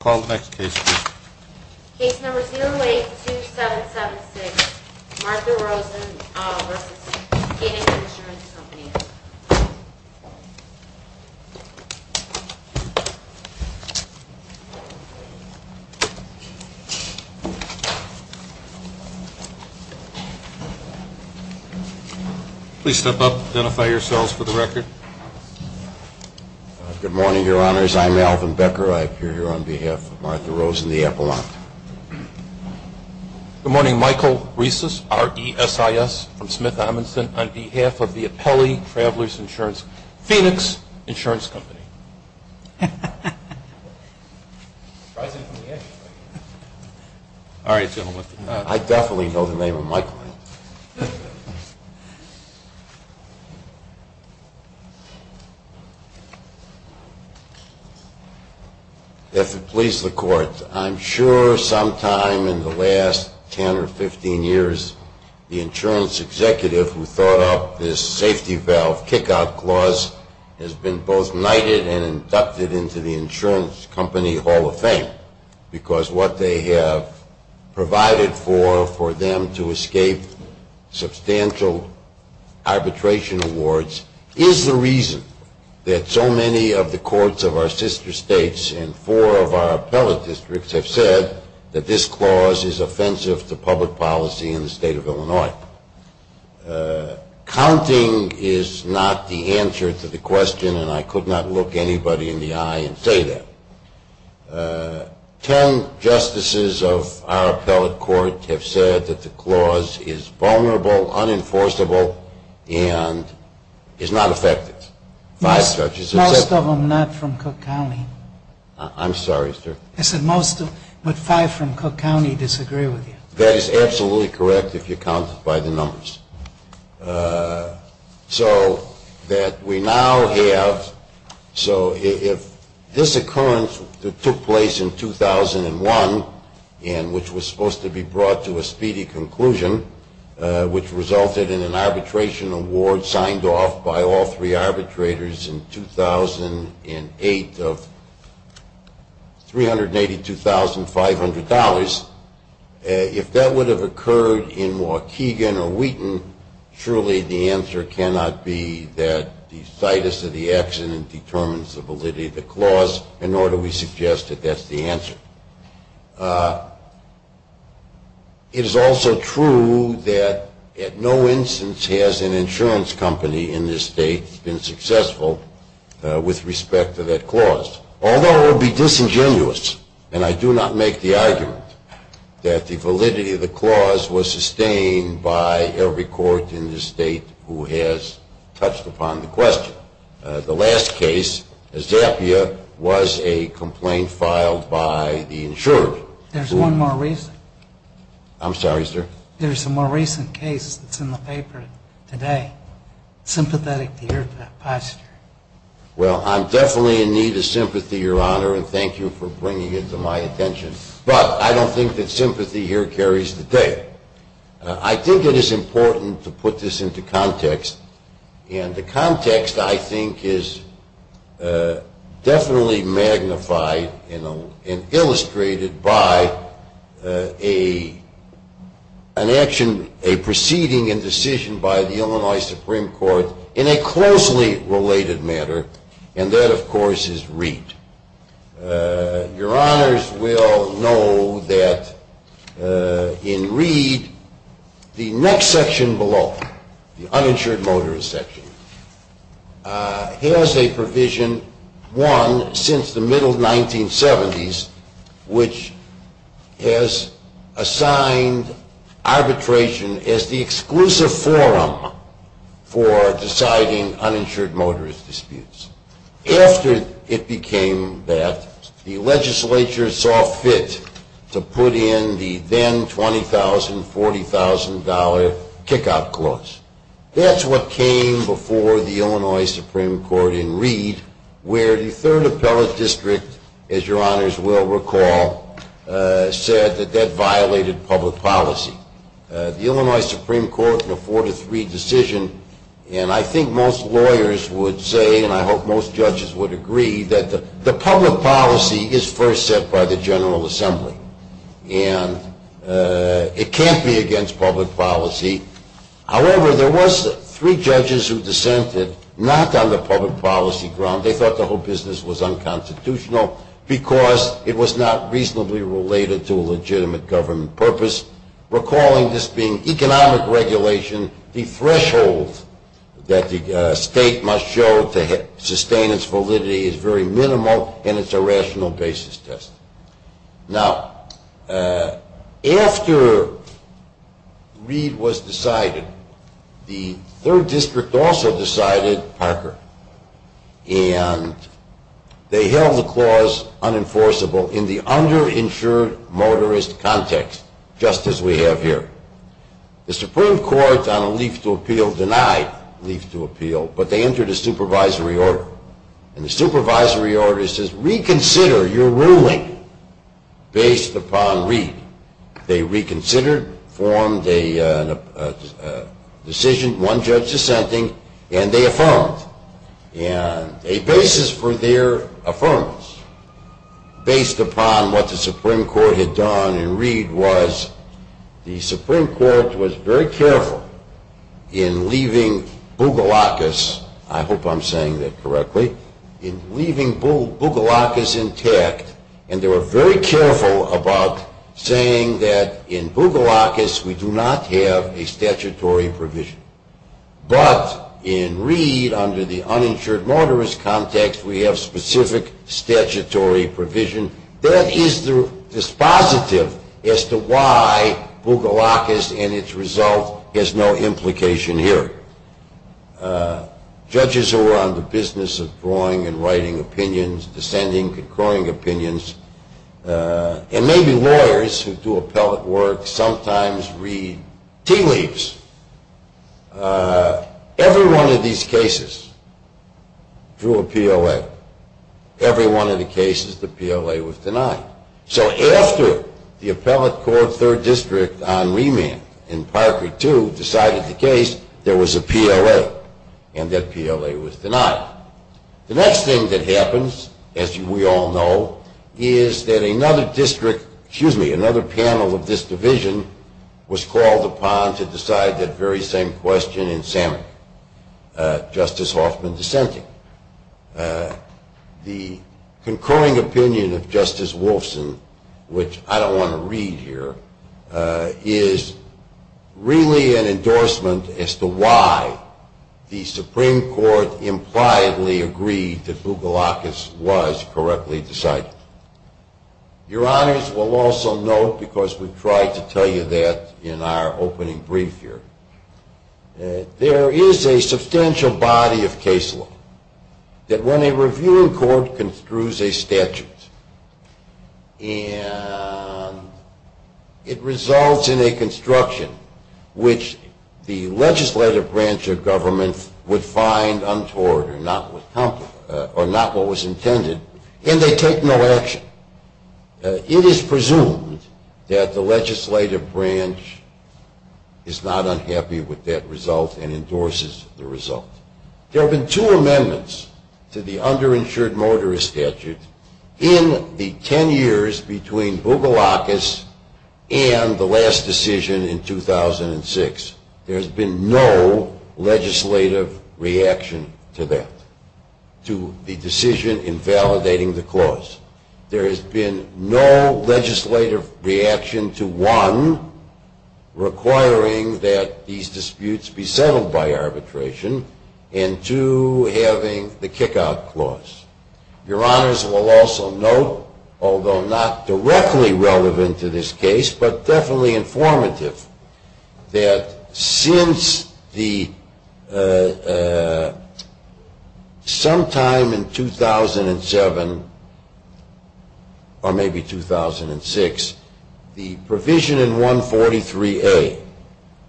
Call the next case please. Case number 082776, Martha Rosen v. Phoenix Insurance Company. Please step up, identify yourselves for the record. Good morning, your honors. I'm Alvin Becker. I appear here on behalf of Martha Rosen, the Appellant. Good morning, Michael Riesis, R-E-S-I-S, from Smith Amundsen, on behalf of the Apelli Travelers Insurance Phoenix Insurance Company. All right, gentlemen. I definitely know the name of my client. If it pleases the court, I'm sure sometime in the last 10 or 15 years the insurance executive who thought up this safety valve kick-out clause has been both knighted and inducted into the insurance company hall of fame. Because what they have provided for, for them to escape substantial arbitration awards, is the reason that so many of the courts of our sister states and four of our appellate districts have said that this clause is offensive to public policy in the state of Illinois. Now, counting is not the answer to the question, and I could not look anybody in the eye and say that. Ten justices of our appellate court have said that the clause is vulnerable, unenforceable, and is not effective. Most of them not from Cook County. I'm sorry, sir. I said most of them, but five from Cook County disagree with you. That is absolutely correct if you count by the numbers. So that we now have, so if this occurrence that took place in 2001 and which was supposed to be brought to a speedy conclusion, which resulted in an arbitration award signed off by all three arbitrators in 2008 of $382,500, if that would have occurred in Waukegan or Wheaton, surely the answer cannot be that the situs of the accident determines the validity of the clause, nor do we suggest that that's the answer. It is also true that at no instance has an insurance company in this state been successful with respect to that clause. Although it would be disingenuous, and I do not make the argument, that the validity of the clause was sustained by every court in this state who has touched upon the question. The last case, Zappia, was a complaint filed by the insurer. There's one more reason. I'm sorry, sir. There's a more recent case that's in the paper today, sympathetic to your position. Well, I'm definitely in need of sympathy, your honor, and thank you for bringing it to my attention, but I don't think that sympathy here carries the day. I think it is important to put this into context, and the context I think is definitely magnified and illustrated by a proceeding and decision by the Illinois Supreme Court in a closely related matter, and that, of course, is Reed. Your honors will know that in Reed, the next section below, the uninsured motorist section, has a provision, one, since the middle 1970s, which has assigned arbitration as the exclusive forum for deciding uninsured motorist disputes. After it became that, the legislature saw fit to put in the then $20,000, $40,000 kick-out clause. That's what came before the Illinois Supreme Court in Reed, where the third appellate district, as your honors will recall, said that that violated public policy. The Illinois Supreme Court in a four-to-three decision, and I think most lawyers would say, and I hope most judges would agree, that the public policy is first set by the General Assembly, and it can't be against public policy. However, there was three judges who dissented, not on the public policy ground. They thought the whole business was unconstitutional because it was not reasonably related to a legitimate government purpose. Recalling this being economic regulation, the threshold that the state must show to sustain its validity is very minimal, and it's a rational basis test. Now, after Reed was decided, the third district also decided, Parker, and they held the clause unenforceable in the underinsured motorist context, just as we have here. The Supreme Court, on a leaf to appeal, denied leaf to appeal, but they entered a supervisory order, and the supervisory order says reconsider your ruling based upon Reed. They reconsidered, formed a decision, one judge dissenting, and they affirmed. And a basis for their affirmance, based upon what the Supreme Court had done in Reed, was the Supreme Court was very careful in leaving Bougalawkas, I hope I'm saying that correctly, in leaving Bougalawkas intact, and they were very careful about saying that in Bougalawkas, we do not have a statutory provision. But in Reed, under the uninsured motorist context, we have specific statutory provision. That is the dispositive as to why Bougalawkas and its result has no implication here. Judges who are on the business of drawing and writing opinions, dissenting, concurring opinions, and maybe lawyers who do appellate work sometimes read tea leaves. Every one of these cases drew a PLA. Every one of the cases, the PLA was denied. So after the appellate court third district on remand in Parker 2 decided the case, there was a PLA, and that PLA was denied. The next thing that happens, as we all know, is that another district, excuse me, another panel of this division was called upon to decide that very same question in Salmon, Justice Hoffman dissenting. The concurring opinion of Justice Wolfson, which I don't want to read here, is really an endorsement as to why the Supreme Court impliedly agreed that Bougalawkas was correctly decided. Your honors will also note, because we tried to tell you that in our opening brief here, there is a substantial body of case law that when a reviewing court construes a statute, and it results in a construction which the legislative branch of government would find untoward or not what was intended, then they take no action. It is presumed that the legislative branch is not unhappy with that result and endorses the result. There have been two amendments to the underinsured mortgage statute in the 10 years between Bougalawkas and the last decision in 2006. There has been no legislative reaction to that, to the decision in validating the clause. There has been no legislative reaction to, one, requiring that these disputes be settled by arbitration, and two, having the kick-out clause. Your honors will also note, although not directly relevant to this case, but definitely informative, that since sometime in 2007 or maybe 2006, the provision in 143A,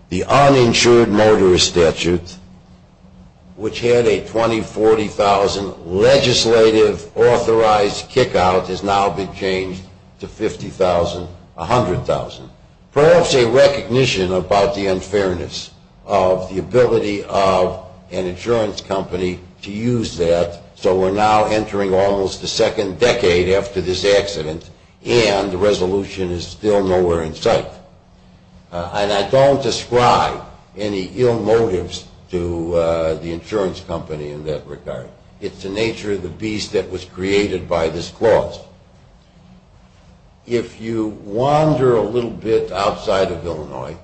the uninsured mortgage statute, which had a 20-40,000 legislative authorized kick-out, has now been changed to 50,000, 100,000. Perhaps a recognition about the unfairness of the ability of an insurance company to use that, so we're now entering almost the second decade after this accident, and the resolution is still nowhere in sight. And I don't describe any ill motives to the insurance company in that regard. It's the nature of the beast that was created by this clause. If you wander a little bit outside of Illinois,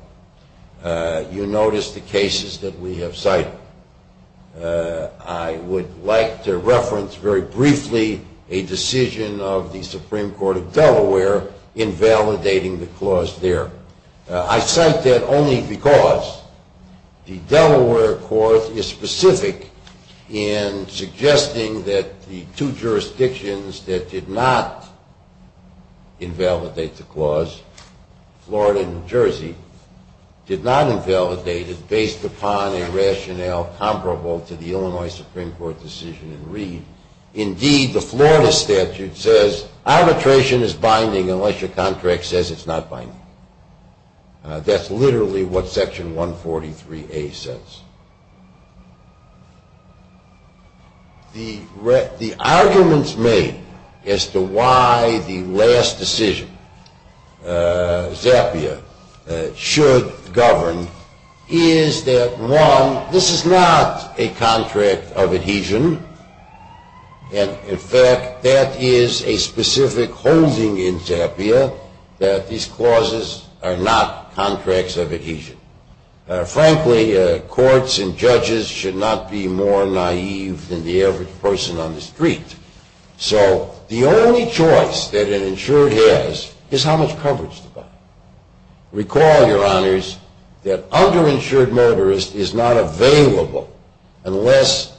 you notice the cases that we have cited. I would like to reference very briefly a decision of the Supreme Court of Delaware in validating the clause there. I cite that only because the Delaware court is specific in suggesting that the two jurisdictions that did not invalidate the clause, Florida and New Jersey, did not invalidate it based upon a rationale comparable to the Illinois Supreme Court decision in Reed. Indeed, the Florida statute says arbitration is binding unless your contract says it's not binding. That's literally what Section 143A says. The arguments made as to why the last decision, ZAPIA, should govern is that, one, this is not a contract of adhesion, and, in fact, that is a specific holding in ZAPIA that these clauses are not contracts of adhesion. Frankly, courts and judges should not be more naive than the average person on the street. So the only choice that an insured has is how much coverage to buy. Recall, Your Honors, that underinsured motorist is not available unless,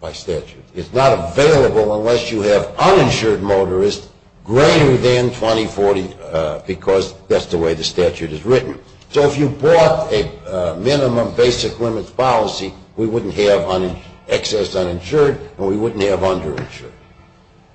by statute, is not available unless you have uninsured motorist greater than 20, 40, because that's the way the statute is written. So if you bought a minimum basic limits policy, we wouldn't have excess uninsured and we wouldn't have underinsured.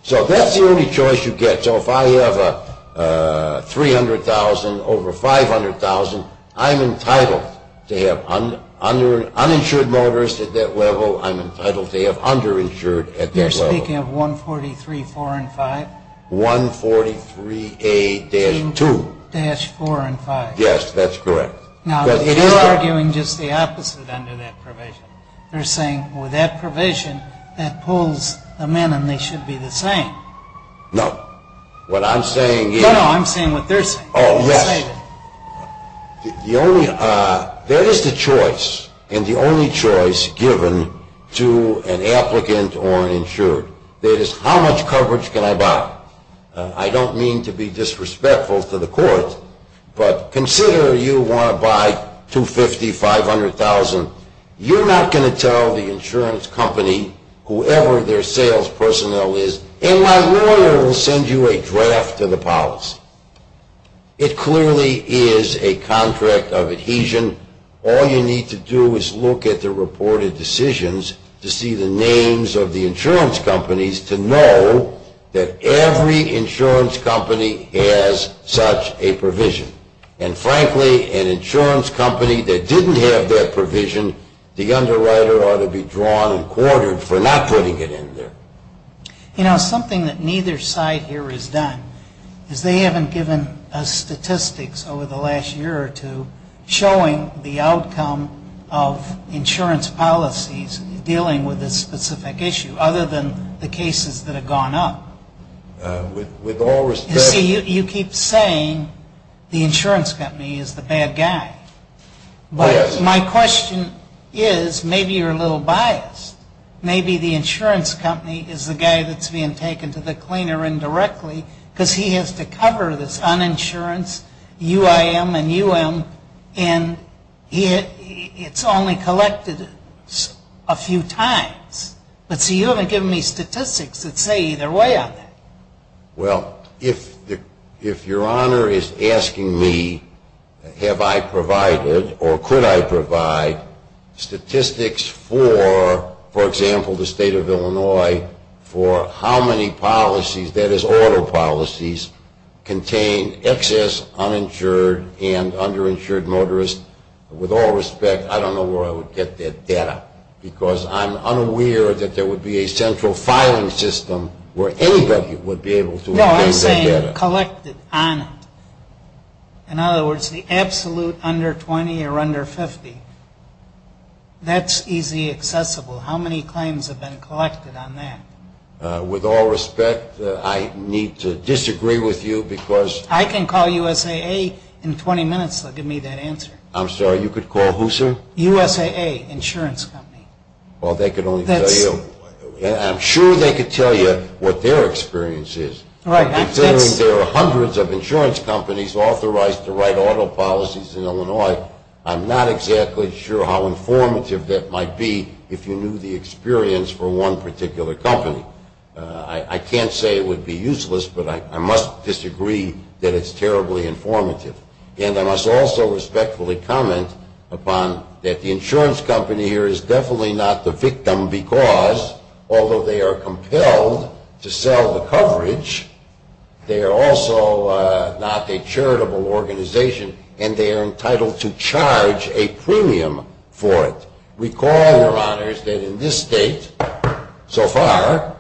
So that's the only choice you get. So if I have 300,000 over 500,000, I'm entitled to have uninsured motorist at that level. I'm entitled to have underinsured at that level. You're speaking of 143, 4 and 5? 143A-2. A-4 and 5. Yes, that's correct. Now, you're arguing just the opposite under that provision. You're saying with that provision, that pulls the men and they should be the same. No. What I'm saying is... No, no, I'm saying what they're saying. Oh, yes. There is the choice and the only choice given to an applicant or an insured. That is, how much coverage can I buy? I don't mean to be disrespectful to the court, but consider you want to buy 250,000, 500,000. You're not going to tell the insurance company, whoever their sales personnel is, and my lawyer will send you a draft of the policy. It clearly is a contract of adhesion. All you need to do is look at the reported decisions to see the names of the insurance companies to know that every insurance company has such a provision. And frankly, an insurance company that didn't have that provision, the underwriter ought to be drawn and quartered for not putting it in there. You know, something that neither side here has done, is they haven't given us statistics over the last year or two showing the outcome of insurance policies dealing with this specific issue, other than the cases that have gone up. With all respect. You see, you keep saying the insurance company is the bad guy. But my question is, maybe you're a little biased. Maybe the insurance company is the guy that's being taken to the cleaner indirectly because he has to cover this uninsurance, UIM and UM, and it's only collected a few times. But see, you haven't given me statistics that say either way on that. Well, if your honor is asking me, have I provided or could I provide statistics for, for example, the state of Illinois, for how many policies, that is auto policies, contain excess uninsured and underinsured motorists, with all respect, I don't know where I would get that data. Because I'm unaware that there would be a central filing system where anybody would be able to obtain that data. No, I'm saying collected on it. In other words, the absolute under 20 or under 50, that's easy accessible. How many claims have been collected on that? With all respect, I need to disagree with you because I can call USAA in 20 minutes, they'll give me that answer. I'm sorry, you could call who, sir? USAA, insurance company. Well, they could only tell you, I'm sure they could tell you what their experience is. Right. Considering there are hundreds of insurance companies authorized to write auto policies in Illinois, I'm not exactly sure how informative that might be if you knew the experience for one particular company. I can't say it would be useless, but I must disagree that it's terribly informative. And I must also respectfully comment upon that the insurance company here is definitely not the victim because although they are compelled to sell the coverage, they are also not a charitable organization and they are entitled to charge a premium for it. Recall, Your Honors, that in this state, so far,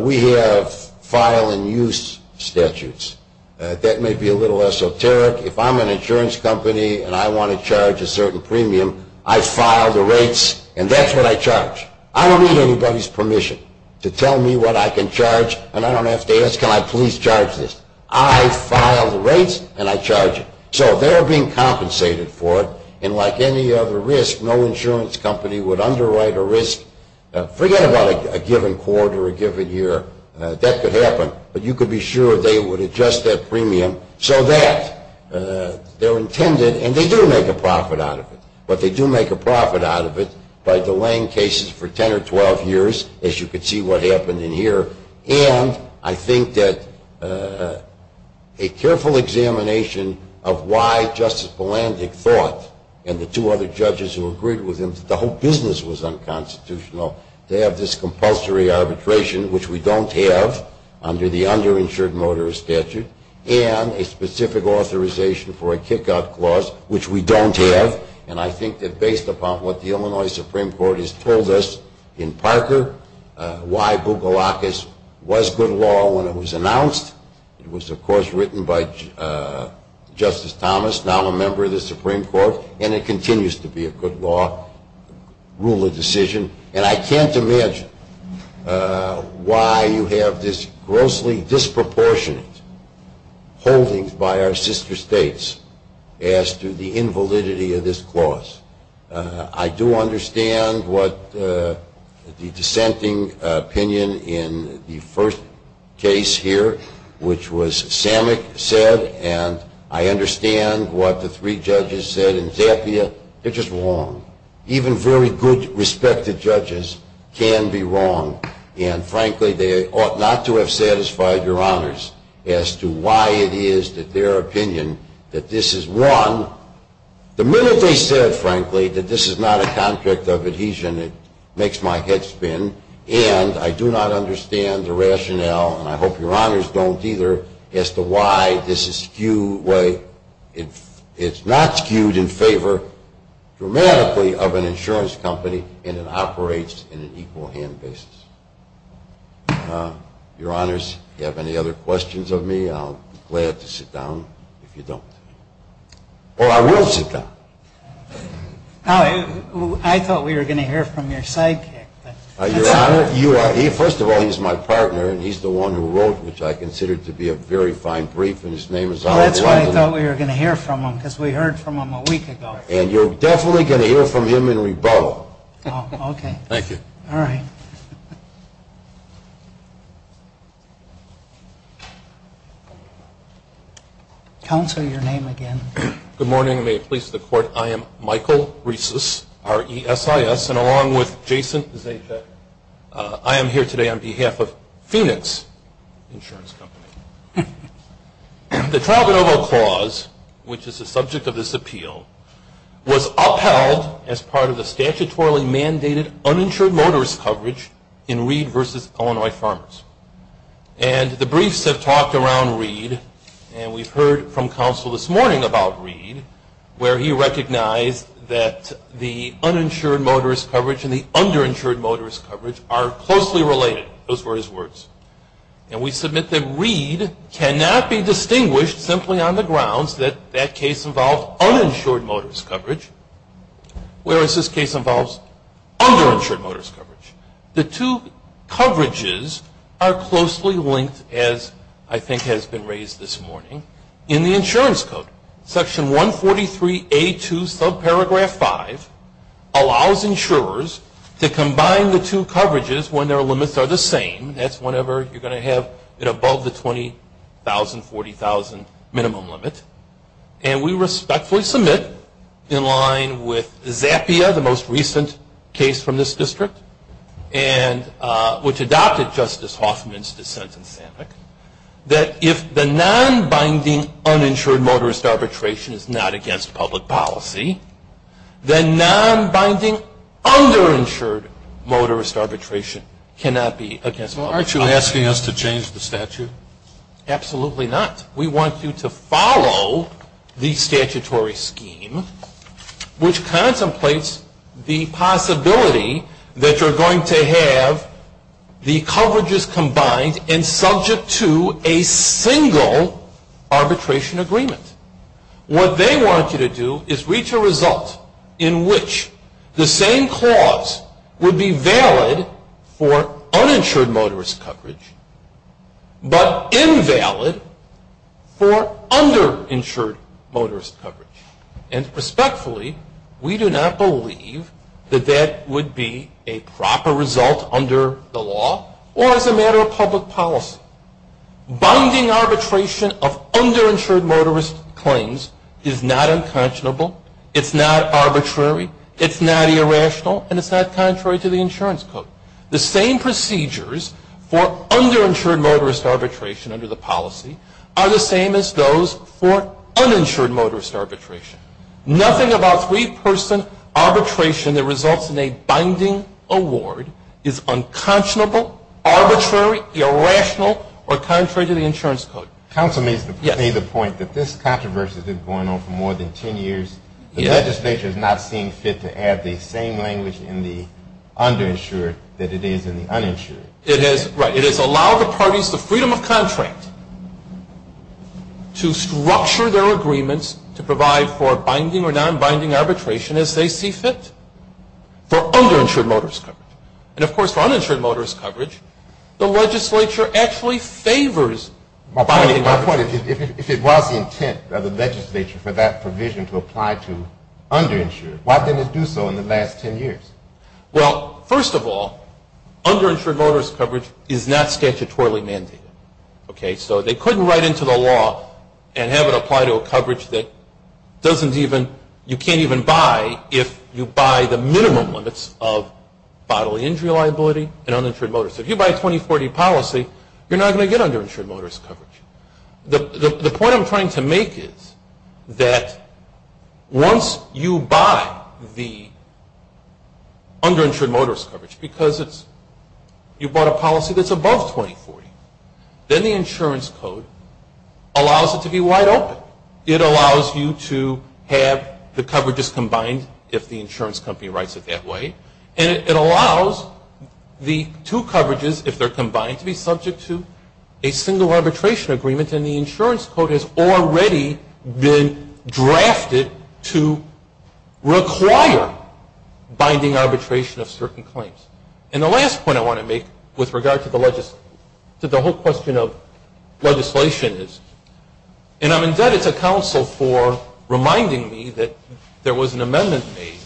we have file and use statutes. That may be a little esoteric. If I'm an insurance company and I want to charge a certain premium, I file the rates and that's what I charge. I don't need anybody's permission to tell me what I can charge, and I don't have to ask, can I please charge this? I file the rates and I charge it. So they are being compensated for it, and like any other risk, no insurance company would underwrite a risk. Forget about a given quarter, a given year. That could happen. But you could be sure they would adjust that premium so that they're intended, and they do make a profit out of it, but they do make a profit out of it by delaying cases for 10 or 12 years, as you can see what happened in here, and I think that a careful examination of why Justice Palandic thought and the two other judges who agreed with him that the whole business was unconstitutional, they have this compulsory arbitration, which we don't have under the underinsured motorist statute, and a specific authorization for a kick-out clause, which we don't have, and I think that based upon what the Illinois Supreme Court has told us in Parker, why Bukalakas was good law when it was announced. It was, of course, written by Justice Thomas, now a member of the Supreme Court, and it continues to be a good law rule of decision, and I can't imagine why you have this grossly disproportionate holding by our sister states as to the invalidity of this clause. I do understand what the dissenting opinion in the first case here, which was Samick said, and I understand what the three judges said in Zappia. They're just wrong. Even very good, respected judges can be wrong, and frankly they ought not to have satisfied your honors as to why it is that their opinion that this is one. The minute they said, frankly, that this is not a contract of adhesion, it makes my head spin, and I do not understand the rationale, and I hope your honors don't either, as to why this is skewed, why it's not skewed in favor dramatically of an insurance company and it operates in an equal hand basis. Your honors, if you have any other questions of me, I'll be glad to sit down if you don't. Or I will sit down. I thought we were going to hear from your sidekick. Your honor, first of all, he's my partner, and he's the one who wrote, which I consider to be a very fine brief, and his name is Oliver. Oh, that's why I thought we were going to hear from him, because we heard from him a week ago. And you're definitely going to hear from him in rebuttal. Oh, okay. Thank you. All right. Good morning, and may it please the Court. I am Michael Resis, R-E-S-I-S, and along with Jason Zajac, I am here today on behalf of Phoenix Insurance Company. The Travanova Clause, which is the subject of this appeal, was upheld as part of the statutorily mandated uninsured motorist coverage in Reed v. Illinois Farmers. And the briefs have talked around Reed, and we've heard from counsel this morning about Reed, where he recognized that the uninsured motorist coverage and the underinsured motorist coverage are closely related. Those were his words. And we submit that Reed cannot be distinguished simply on the grounds that that case involved uninsured motorist coverage, whereas this case involves underinsured motorist coverage. The two coverages are closely linked, as I think has been raised this morning, in the insurance code. Section 143A2, subparagraph 5, allows insurers to combine the two coverages when their limits are the same. That's whenever you're going to have it above the 20,000, 40,000 minimum limit. And we respectfully submit, in line with ZAPIA, the most recent case from this district, which adopted Justice Hoffman's dissent in SAMHEC, that if the nonbinding uninsured motorist arbitration is not against public policy, then nonbinding underinsured motorist arbitration cannot be against public policy. Well, aren't you asking us to change the statute? Absolutely not. We want you to follow the statutory scheme, which contemplates the possibility that you're going to have the coverages combined and subject to a single arbitration agreement. What they want you to do is reach a result in which the same clause would be valid for uninsured motorist coverage, but invalid for underinsured motorist coverage. And respectfully, we do not believe that that would be a proper result under the law or as a matter of public policy. Binding arbitration of underinsured motorist claims is not unconscionable, it's not arbitrary, it's not irrational, and it's not contrary to the insurance code. The same procedures for underinsured motorist arbitration under the policy are the same as those for uninsured motorist arbitration. Nothing about three-person arbitration that results in a binding award is unconscionable, arbitrary, irrational, or contrary to the insurance code. Counsel may make the point that this controversy has been going on for more than ten years. The legislature is not seeing fit to add the same language in the underinsured that it is in the uninsured. It has allowed the parties the freedom of contract to structure their agreements to provide for binding or nonbinding arbitration as they see fit for underinsured motorist coverage. And of course, for uninsured motorist coverage, the legislature actually favors binding arbitration. My point is, if it was the intent of the legislature for that provision to apply to underinsured, why didn't it do so in the last ten years? Well, first of all, underinsured motorist coverage is not statutorily mandated. So they couldn't write into the law and have it apply to a coverage that you can't even buy if you buy the minimum limits of bodily injury liability and uninsured motorist. If you buy a 2040 policy, you're not going to get underinsured motorist coverage. The point I'm trying to make is that once you buy the underinsured motorist coverage because you bought a policy that's above 2040, then the insurance code allows it to be wide open. It allows you to have the coverages combined if the insurance company writes it that way. And it allows the two coverages, if they're combined, to be subject to a single arbitration agreement and the insurance code has already been drafted to require binding arbitration of certain claims. And the last point I want to make with regard to the whole question of legislation is, and I'm indebted to counsel for reminding me that there was an amendment made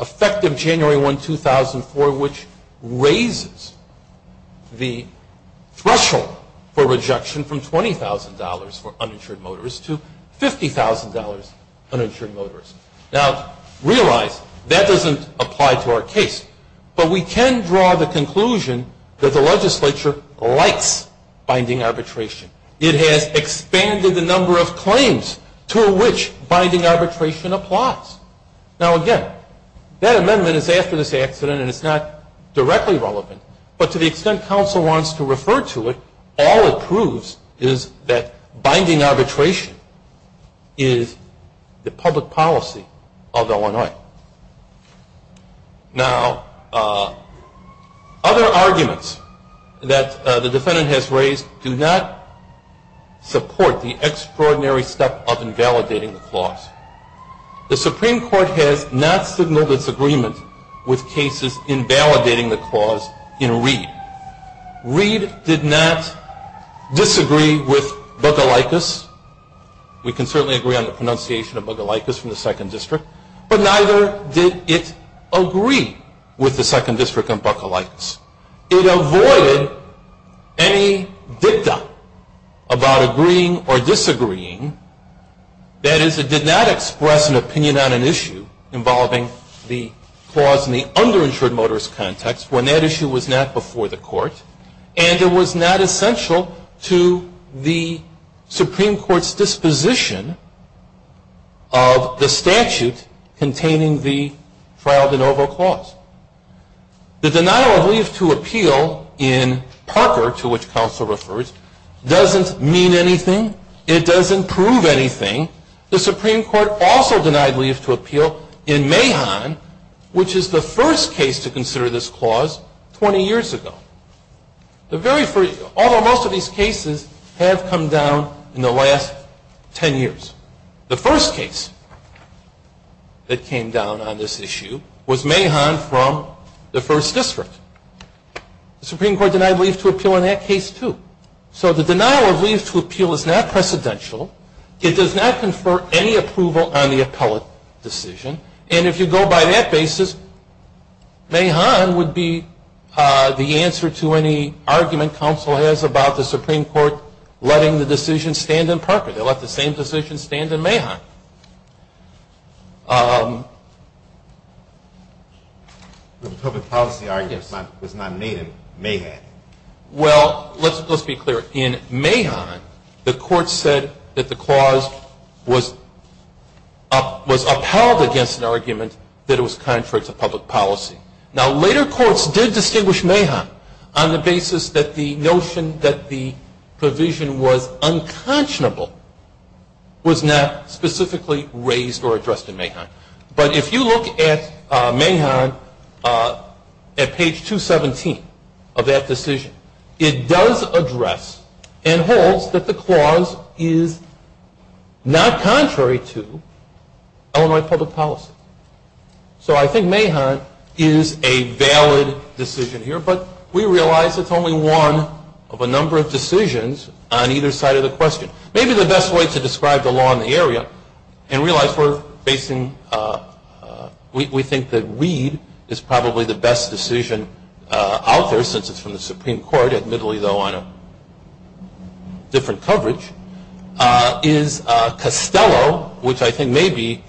effective January 1, 2004, which raises the threshold for rejection from $20,000 for uninsured motorist to $50,000 uninsured motorist. Now, realize that doesn't apply to our case. But we can draw the conclusion that the legislature likes binding arbitration. It has expanded the number of claims to which binding arbitration applies. Now, again, that amendment is after this accident and it's not directly relevant. But to the extent counsel wants to refer to it, all it proves is that binding arbitration is the public policy of Illinois. Now, other arguments that the defendant has raised do not support the extraordinary step of invalidating the clause. The Supreme Court has not signaled its agreement with cases invalidating the clause in Reed. Reed did not disagree with Bugalikas. We can certainly agree on the pronunciation of Bugalikas from the Second District. But neither did it agree with the Second District on Bugalikas. It avoided any dicta about agreeing or disagreeing. That is, it did not express an opinion on an issue involving the clause in the underinsured motorist context when that issue was not before the court. And it was not essential to the Supreme Court's disposition of the statute containing the trial de novo clause. The denial of leave to appeal in Parker, to which counsel refers, doesn't mean anything. It doesn't prove anything. The Supreme Court also denied leave to appeal in Mahon, which is the first case to consider this clause 20 years ago. Although most of these cases have come down in the last 10 years. The first case that came down on this issue was Mahon from the First District. The Supreme Court denied leave to appeal in that case too. So the denial of leave to appeal is not precedential. It does not confer any approval on the appellate decision. And if you go by that basis, Mahon would be the answer to any argument counsel has about the Supreme Court letting the decision stand in Parker. They let the same decision stand in Mahon. Well, let's be clear. In Mahon, the court said that the clause was upheld against an argument that it was contrary to public policy. Now, later courts did distinguish Mahon on the basis that the notion that the provision was unconscionable was not specifically raised or addressed in Mahon. But if you look at Mahon at page 217 of that decision, it does address and holds that the clause is not contrary to Illinois public policy. So I think Mahon is a valid decision here. But we realize it's only one of a number of decisions on either side of the question. Maybe the best way to describe the law in the area and realize we're facing, we think that Reed is probably the best decision out there since it's from the Supreme Court, admittedly though on a different coverage, is Costello, which I think may be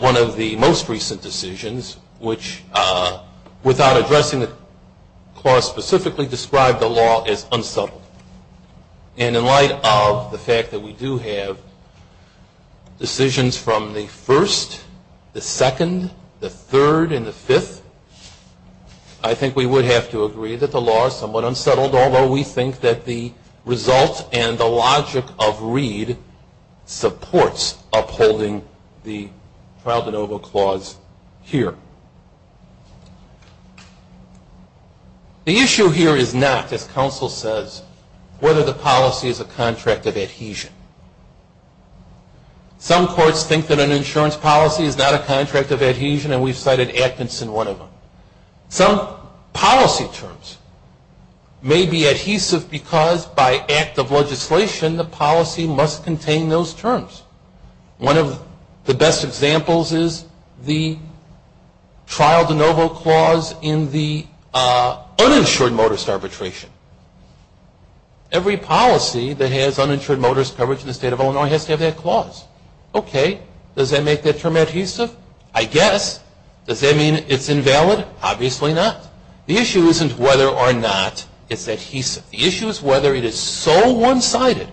one of the most recent decisions, which without addressing the clause specifically described the law as unsubtle. And in light of the fact that we do have decisions from the first, the second, the third, and the fifth, I think we would have to agree that the law is somewhat unsettled, although we think that the result and the logic of Reed supports upholding the trial de novo clause here. The issue here is not, as counsel says, whether the policy is a contract of adhesion. Some courts think that an insurance policy is not a contract of adhesion, and we've cited Atkinson, one of them. Some policy terms may be adhesive because by act of legislation the policy must contain those terms. One of the best examples is the trial de novo clause in the uninsured motorist arbitration. Every policy that has uninsured motorist coverage in the state of Illinois has to have that clause. Okay, does that make that term adhesive? I guess. Does that mean it's invalid? Obviously not. The issue isn't whether or not it's adhesive. The issue is whether it is so one-sided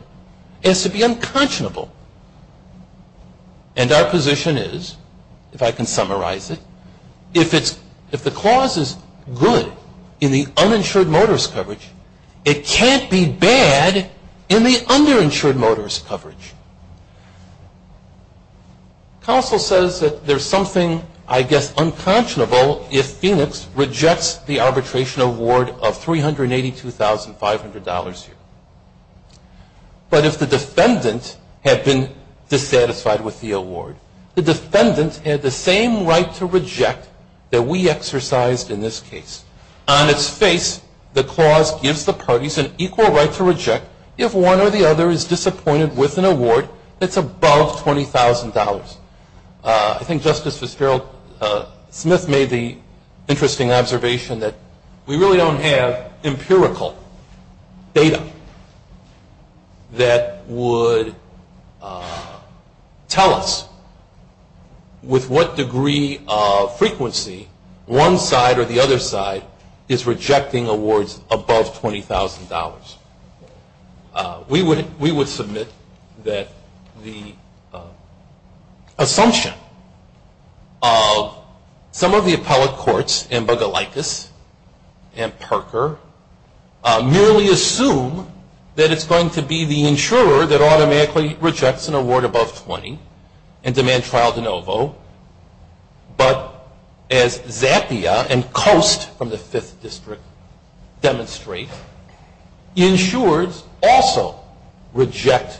as to be unconscionable. And our position is, if I can summarize it, if the clause is good in the uninsured motorist coverage, it can't be bad in the underinsured motorist coverage. Counsel says that there's something, I guess, unconscionable if Phoenix rejects the arbitration award of $382,500 here. But if the defendant had been dissatisfied with the award, the defendant had the same right to reject that we exercised in this case. On its face, the clause gives the parties an equal right to reject if one or the other is disappointed with an award that's above $20,000. I think Justice Fitzgerald Smith made the interesting observation that we really don't have empirical data that would tell us with what degree of frequency one side or the other side is rejecting awards above $20,000. We would submit that the assumption of some of the appellate courts, and Bogolakis and Parker, merely assume that it's going to be the insurer that automatically rejects an award above $20,000 and demand trial de novo. But as Zappia and Coast from the 5th District demonstrate, insurers also reject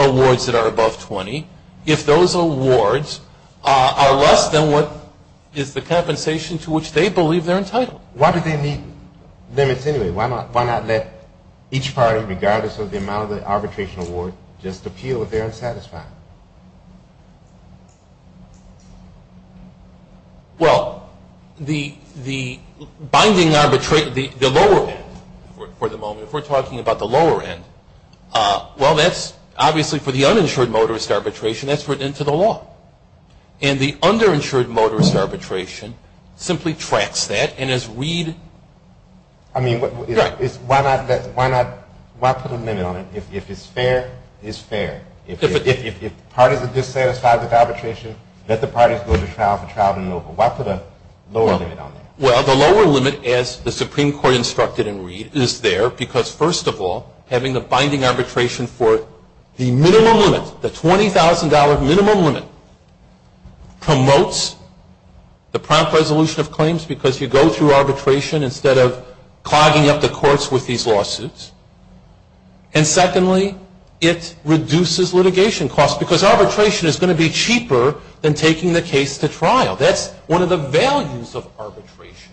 awards that are above $20,000 if those awards are less than what is the compensation to which they believe they're entitled. Why do they need limits anyway? Why not let each party, regardless of the amount of the arbitration award, just appeal if they're unsatisfied? Well, the binding arbitration, the lower end for the moment, if we're talking about the lower end, well, that's obviously for the uninsured motorist arbitration, that's written into the law. And the underinsured motorist arbitration simply tracks that and is read. I mean, why not put a limit on it? If it's fair, it's fair. If parties are dissatisfied with arbitration, let the parties go to trial for trial de novo. Why put a lower limit on it? Well, the lower limit, as the Supreme Court instructed in Reed, is there because, first of all, having the binding arbitration for the minimum limit, the $20,000 minimum limit, promotes the prompt resolution of claims because you go through arbitration instead of clogging up the courts with these lawsuits. And secondly, it reduces litigation costs because arbitration is going to be cheaper than taking the case to trial. That's one of the values of arbitration.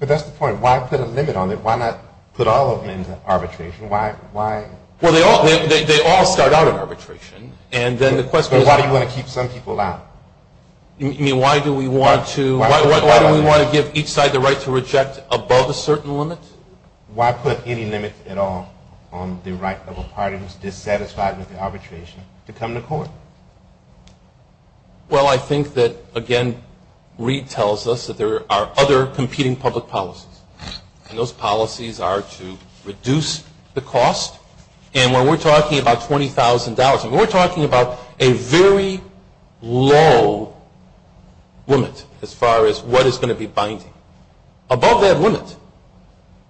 But that's the point. Why put a limit on it? Why not put all of them into arbitration? Well, they all start out in arbitration. But why do you want to keep some people out? You mean, why do we want to give each side the right to reject above a certain limit? Why put any limit at all on the right of a party who's dissatisfied with the arbitration to come to court? Well, I think that, again, Reed tells us that there are other competing public policies. And those policies are to reduce the cost. And when we're talking about $20,000, we're talking about a very low limit as far as what is going to be binding. Above that limit.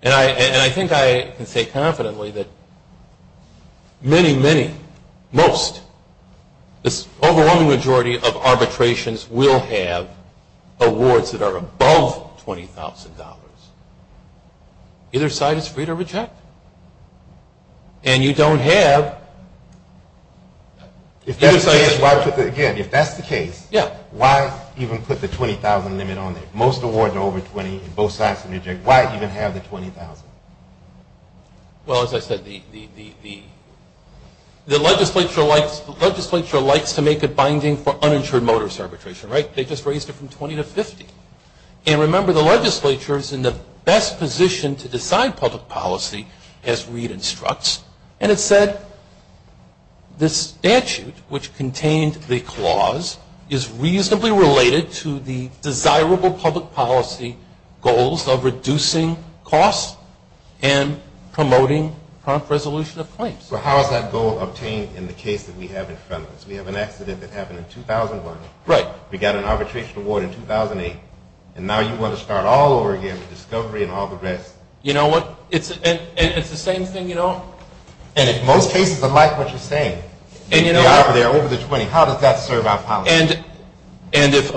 And I think I can say confidently that many, many, most, this overwhelming majority of arbitrations will have awards that are above $20,000. Either side is free to reject. And you don't have... If that's the case, why put the, again, if that's the case, why even put the $20,000 limit on it? Most award to over $20,000 and both sides can reject. Why even have the $20,000? Well, as I said, the legislature likes to make it binding for uninsured motorist arbitration, right? And remember, the legislature is in the best position to decide public policy as Reed instructs. And it said this statute, which contained the clause, is reasonably related to the desirable public policy goals of reducing costs and promoting prompt resolution of claims. Well, how is that goal obtained in the case that we have in front of us? We have an accident that happened in 2001. Right. We got an arbitration award in 2008. And now you want to start all over again with discovery and all the rest. You know what? It's the same thing, you know? And in most cases, I like what you're saying. And you know what? They're over the $20,000. How does that serve our policy? And if...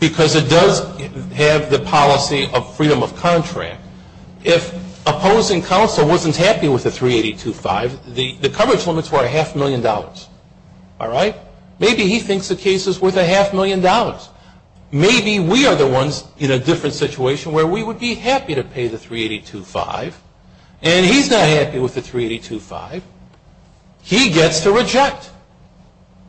Because it does have the policy of freedom of contract. If opposing counsel wasn't happy with the $382,500, the coverage limits were a half million dollars. All right? Maybe he thinks the case is worth a half million dollars. Maybe we are the ones in a different situation where we would be happy to pay the $382,500, and he's not happy with the $382,500. He gets to reject.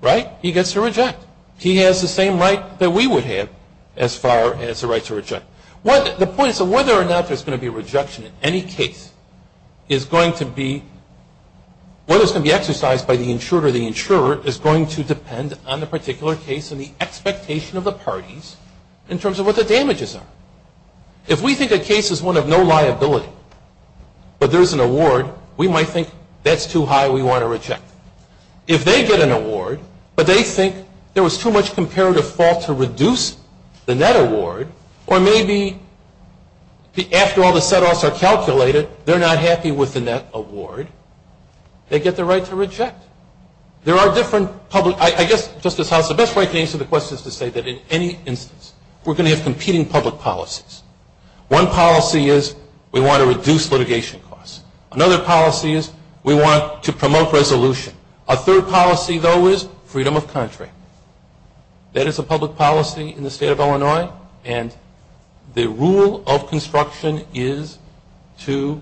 Right? He gets to reject. He has the same right that we would have as far as the right to reject. The point is that whether or not there's going to be rejection in any case is going to be... going to depend on the particular case and the expectation of the parties in terms of what the damages are. If we think a case is one of no liability, but there's an award, we might think that's too high, we want to reject. If they get an award, but they think there was too much comparative fault to reduce the net award, or maybe after all the set-offs are calculated, they're not happy with the net award, they get the right to reject. There are different public... I guess, Justice House, the best way to answer the question is to say that in any instance, we're going to have competing public policies. One policy is we want to reduce litigation costs. Another policy is we want to promote resolution. A third policy, though, is freedom of contract. That is a public policy in the state of Illinois, and the rule of construction is to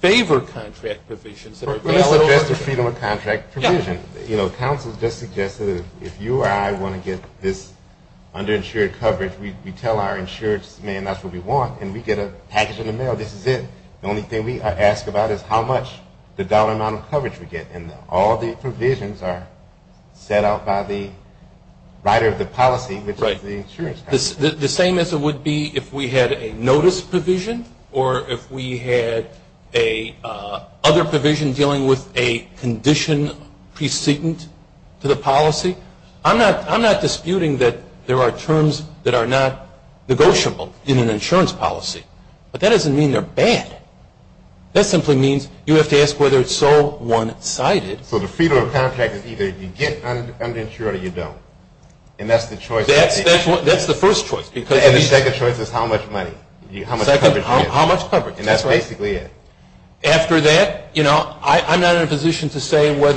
favor contract provisions. Let me suggest a freedom of contract provision. You know, counsel just suggested if you or I want to get this underinsured coverage, we tell our insurance man that's what we want, and we get a package in the mail, this is it. The only thing we ask about is how much the dollar amount of coverage we get, and all the provisions are set out by the writer of the policy, which is the insurance company. The same as it would be if we had a notice provision or if we had a other provision dealing with a condition precedent to the policy. I'm not disputing that there are terms that are not negotiable in an insurance policy, but that doesn't mean they're bad. That simply means you have to ask whether it's all one-sided. So the freedom of contract is either you get underinsured or you don't, and that's the choice? That's the first choice. And the second choice is how much money? How much coverage? And that's basically it. After that, you know, I'm not in a position to say what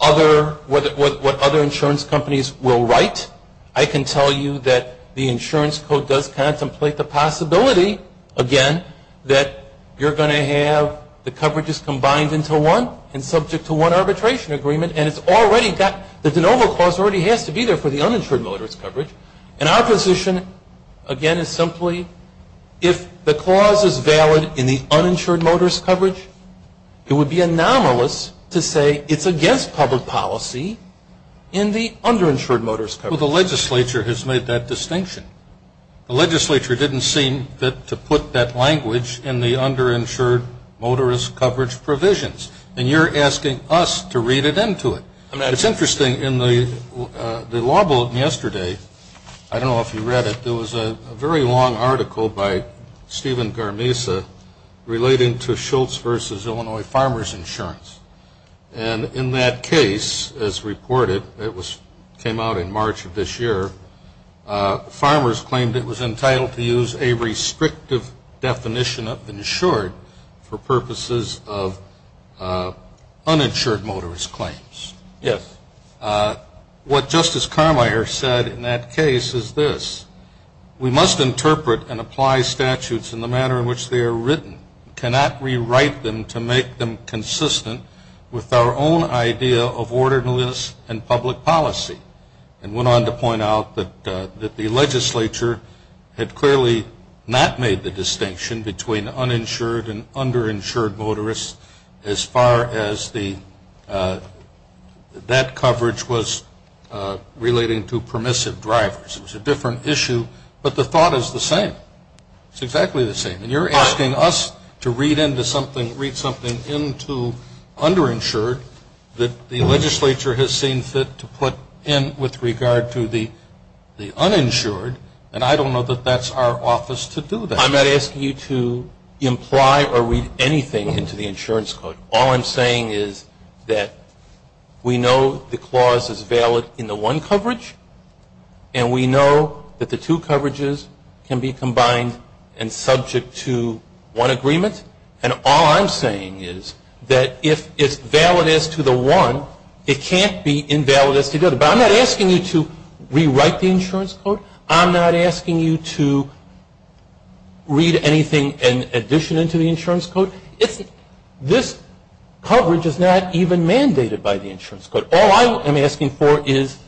other insurance companies will write. I can tell you that the insurance code does contemplate the possibility, again, that you're going to have the coverages combined into one and subject to one arbitration agreement, and it's already got the de novo clause already has to be there for the uninsured motorist coverage. And our position, again, is simply if the clause is valid in the uninsured motorist coverage, it would be anomalous to say it's against public policy in the underinsured motorist coverage. Well, the legislature has made that distinction. The legislature didn't seem fit to put that language in the underinsured motorist coverage provisions, and you're asking us to read it into it. It's interesting, in the law book yesterday, I don't know if you read it, there was a very long article by Stephen Garmisa relating to Schultz v. Illinois Farmers Insurance. And in that case, as reported, it came out in March of this year, farmers claimed it was entitled to use a restrictive definition of insured for purposes of uninsured motorist claims. Yes. What Justice Carmier said in that case is this. We must interpret and apply statutes in the manner in which they are written. We cannot rewrite them to make them consistent with our own idea of orderliness and public policy. And went on to point out that the legislature had clearly not made the distinction between uninsured and underinsured motorists as far as that coverage was relating to permissive drivers. It was a different issue, but the thought is the same. It's exactly the same. And you're asking us to read something into underinsured that the legislature has seen fit to put in with regard to the uninsured, and I don't know that that's our office to do that. I'm not asking you to imply or read anything into the insurance code. All I'm saying is that we know the clause is valid in the one coverage, and we know that the two coverages can be combined and subject to one agreement. And all I'm saying is that if it's valid as to the one, it can't be invalid as to the other. But I'm not asking you to rewrite the insurance code. I'm not asking you to read anything in addition to the insurance code. This coverage is not even mandated by the insurance code. All I am asking for is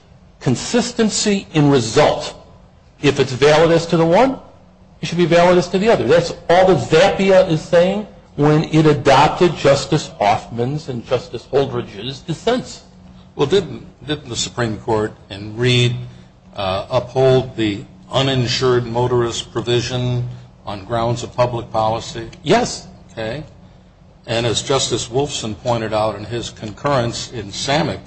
consistency in result. If it's valid as to the one, it should be valid as to the other. That's all that Zappia is saying when it adopted Justice Hoffman's and Justice Oldridge's defense. Well, didn't the Supreme Court in Reed uphold the uninsured motorist provision on grounds of public policy? Yes. Okay. And as Justice Wolfson pointed out in his concurrence in Samick,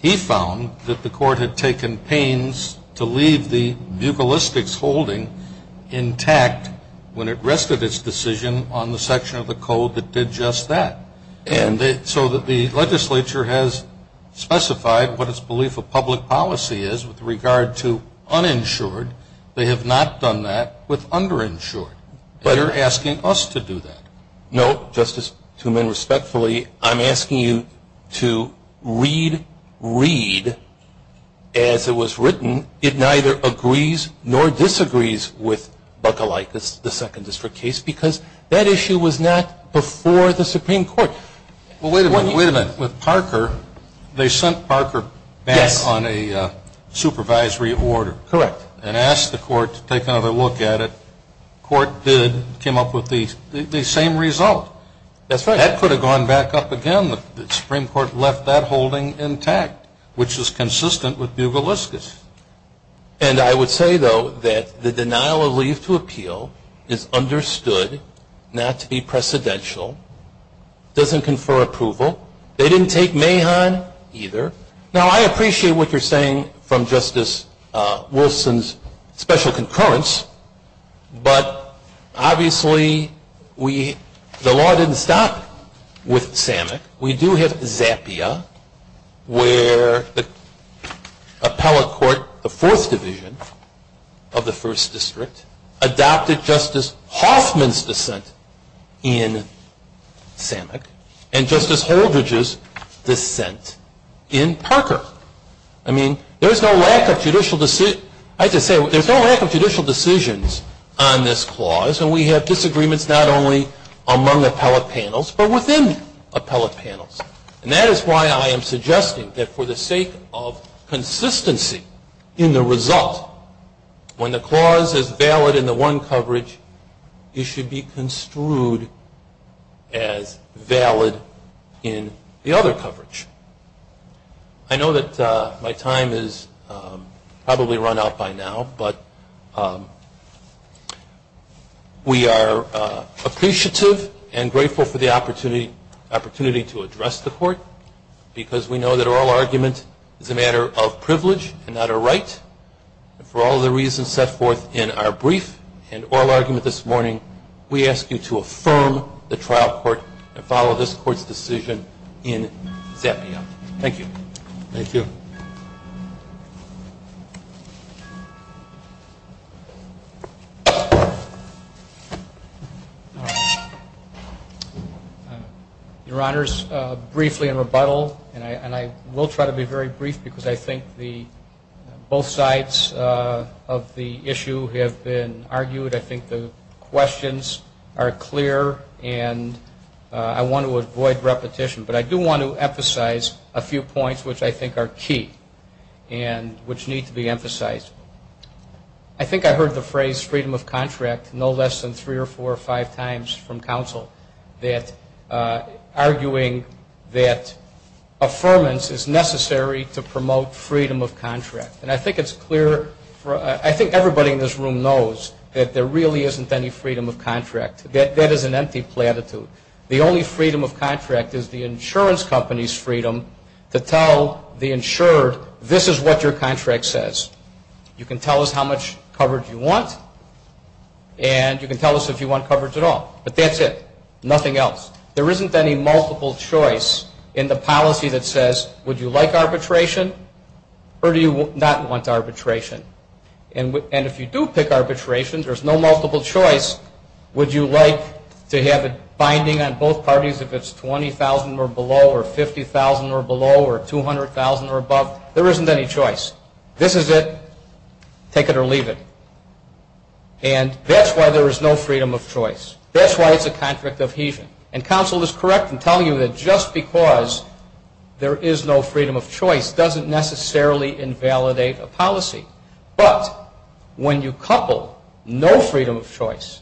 he found that the court had taken pains to leave the bugalistics holding intact when it rested its decision on the section of the code that did just that. And so the legislature has specified what its belief of public policy is with regard to uninsured. They have not done that with underinsured. And you're asking us to do that. No, Justice Truman, respectfully, I'm asking you to read Reed as it was written. It neither agrees nor disagrees with bugalicus, the second district case, because that issue was not before the Supreme Court. Wait a minute. With Parker, they sent Parker back on a supervisory order. Correct. And asked the court to take another look at it. The court did, came up with the same result. That's right. That could have gone back up again. The Supreme Court left that holding intact, which is consistent with bugalicus. And I would say, though, that the denial of leave to appeal is understood not to be precedential, doesn't confer approval. They didn't take Mahon either. Now, I appreciate what you're saying from Justice Wilson's special concurrence, but obviously the law didn't stop with Samick. We do have Zappia, where the appellate court, the fourth division of the first district, adopted Justice Hoffman's dissent in Samick and Justice Holdridge's dissent in Parker. I mean, there's no lack of judicial decisions on this clause, and we have disagreements not only among appellate panels, but within appellate panels. And that is why I am suggesting that for the sake of consistency in the result, when the clause is valid in the one coverage, it should be construed as valid in the other coverage. I know that my time is probably run out by now, but we are appreciative and grateful for the opportunity to address the Court, because we know that oral argument is a matter of privilege and not a right. And for all the reasons set forth in our brief and oral argument this morning, we ask you to affirm the trial court and follow this Court's decision in Zappia. Thank you. Thank you. Your Honors, briefly in rebuttal, and I will try to be very brief, because I think both sides of the issue have been argued. I think the questions are clear, and I want to avoid repetition, but I do want to emphasize a few points which I think are key and which need to be emphasized. I think I heard the phrase freedom of contract no less than three or four or five times from counsel, arguing that affirmance is necessary to promote freedom of contract. And I think it's clear. I think everybody in this room knows that there really isn't any freedom of contract. That is an empty platitude. The only freedom of contract is the insurance company's freedom to tell the insured, this is what your contract says. You can tell us how much coverage you want, and you can tell us if you want coverage at all. But that's it. Nothing else. There isn't any multiple choice in the policy that says, would you like arbitration or do you not want arbitration? And if you do pick arbitration, there's no multiple choice. Would you like to have it binding on both parties if it's 20,000 or below or 50,000 or below or 200,000 or above? There isn't any choice. This is it. Take it or leave it. And that's why there is no freedom of choice. That's why it's a contract ofhesion. And counsel is correct in telling you that just because there is no freedom of choice doesn't necessarily invalidate a policy. But when you couple no freedom of choice,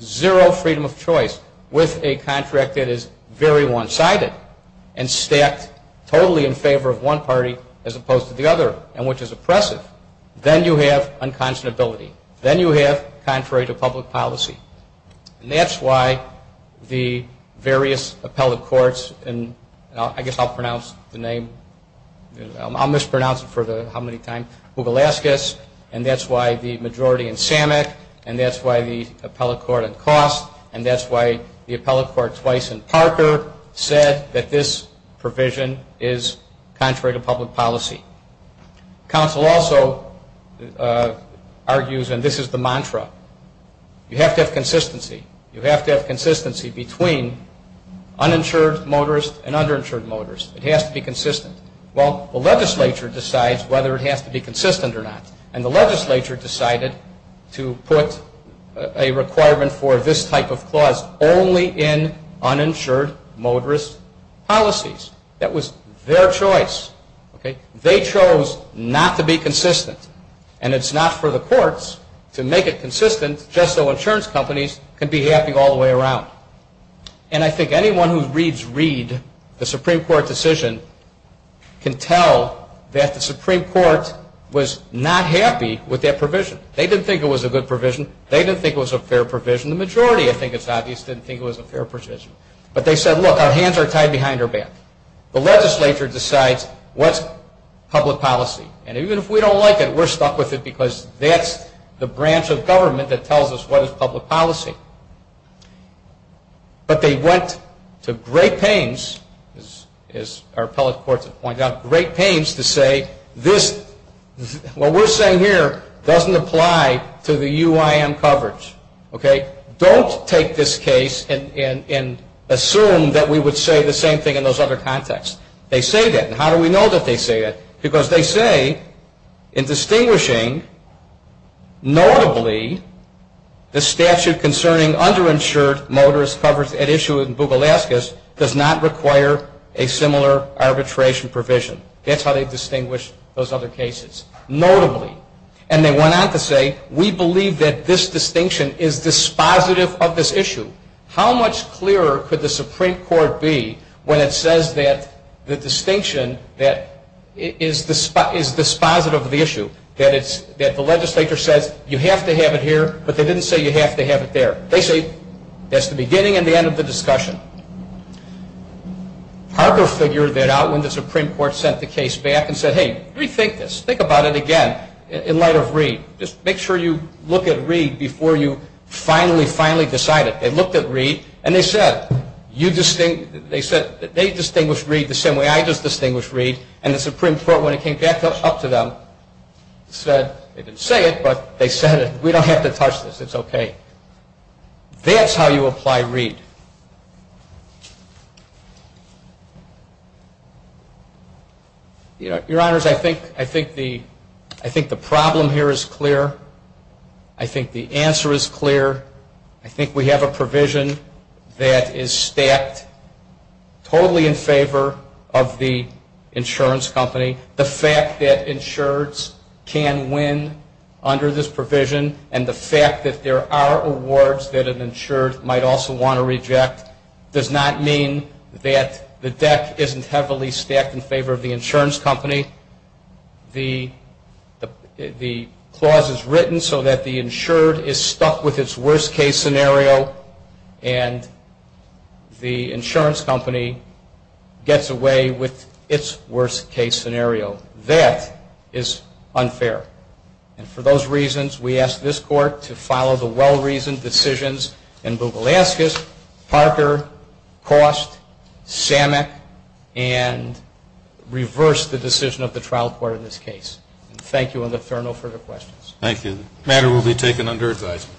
zero freedom of choice with a contract that is very one-sided and stacked totally in favor of one party as opposed to the other and which is oppressive, then you have unconscionability. Then you have contrary to public policy. And that's why the various appellate courts, and I guess I'll pronounce the name, I'll mispronounce it for how many times, Hoogalaskis, and that's why the majority in Samick, and that's why the appellate court in Cost, and that's why the appellate court twice in Parker said that this provision is contrary to public policy. Counsel also argues, and this is the mantra, you have to have consistency. You have to have consistency between uninsured motorists and underinsured motorists. It has to be consistent. Well, the legislature decides whether it has to be consistent or not. And the legislature decided to put a requirement for this type of clause only in uninsured motorist policies. That was their choice. They chose not to be consistent. And it's not for the courts to make it consistent just so insurance companies can be happy all the way around. And I think anyone who reads Reed, the Supreme Court decision, can tell that the Supreme Court was not happy with that provision. They didn't think it was a good provision. They didn't think it was a fair provision. The majority, I think it's obvious, didn't think it was a fair provision. But they said, look, our hands are tied behind our back. The legislature decides what's public policy. And even if we don't like it, we're stuck with it because that's the branch of government that tells us what is public policy. But they went to great pains, as our appellate courts have pointed out, great pains to say, what we're saying here doesn't apply to the UIM coverage. Don't take this case and assume that we would say the same thing in those other contexts. They say that. And how do we know that they say that? Because they say, in distinguishing, notably, the statute concerning underinsured motorist coverage at issue in Bougalaskas does not require a similar arbitration provision. That's how they distinguish those other cases, notably. And they went on to say, we believe that this distinction is dispositive of this issue. How much clearer could the Supreme Court be when it says that the distinction is dispositive of the issue, that the legislature says you have to have it here, but they didn't say you have to have it there. They say that's the beginning and the end of the discussion. Parker figured that out when the Supreme Court sent the case back and said, hey, rethink this. Think about it again. In light of Reed, just make sure you look at Reed before you finally, finally decide it. They looked at Reed, and they said, they distinguished Reed the same way I just distinguished Reed. And the Supreme Court, when it came back up to them, said, they didn't say it, but they said it. We don't have to touch this. It's okay. That's how you apply Reed. Your Honors, I think the problem here is clear. I think the answer is clear. I think we have a provision that is stacked totally in favor of the insurance company. The fact that insureds can win under this provision and the fact that there are awards that an insured might also want to reject does not mean that the deck isn't heavily stacked in favor of the insurance company. The clause is written so that the insured is stuck with its worst-case scenario, and the insurance company gets away with its worst-case scenario. That is unfair. And for those reasons, we ask this Court to follow the well-reasoned decisions in Bugulaskis, Parker, Cost, Samek, and reverse the decision of the trial court in this case. Thank you, and I'll defer no further questions. Thank you. The matter will be taken under advisement.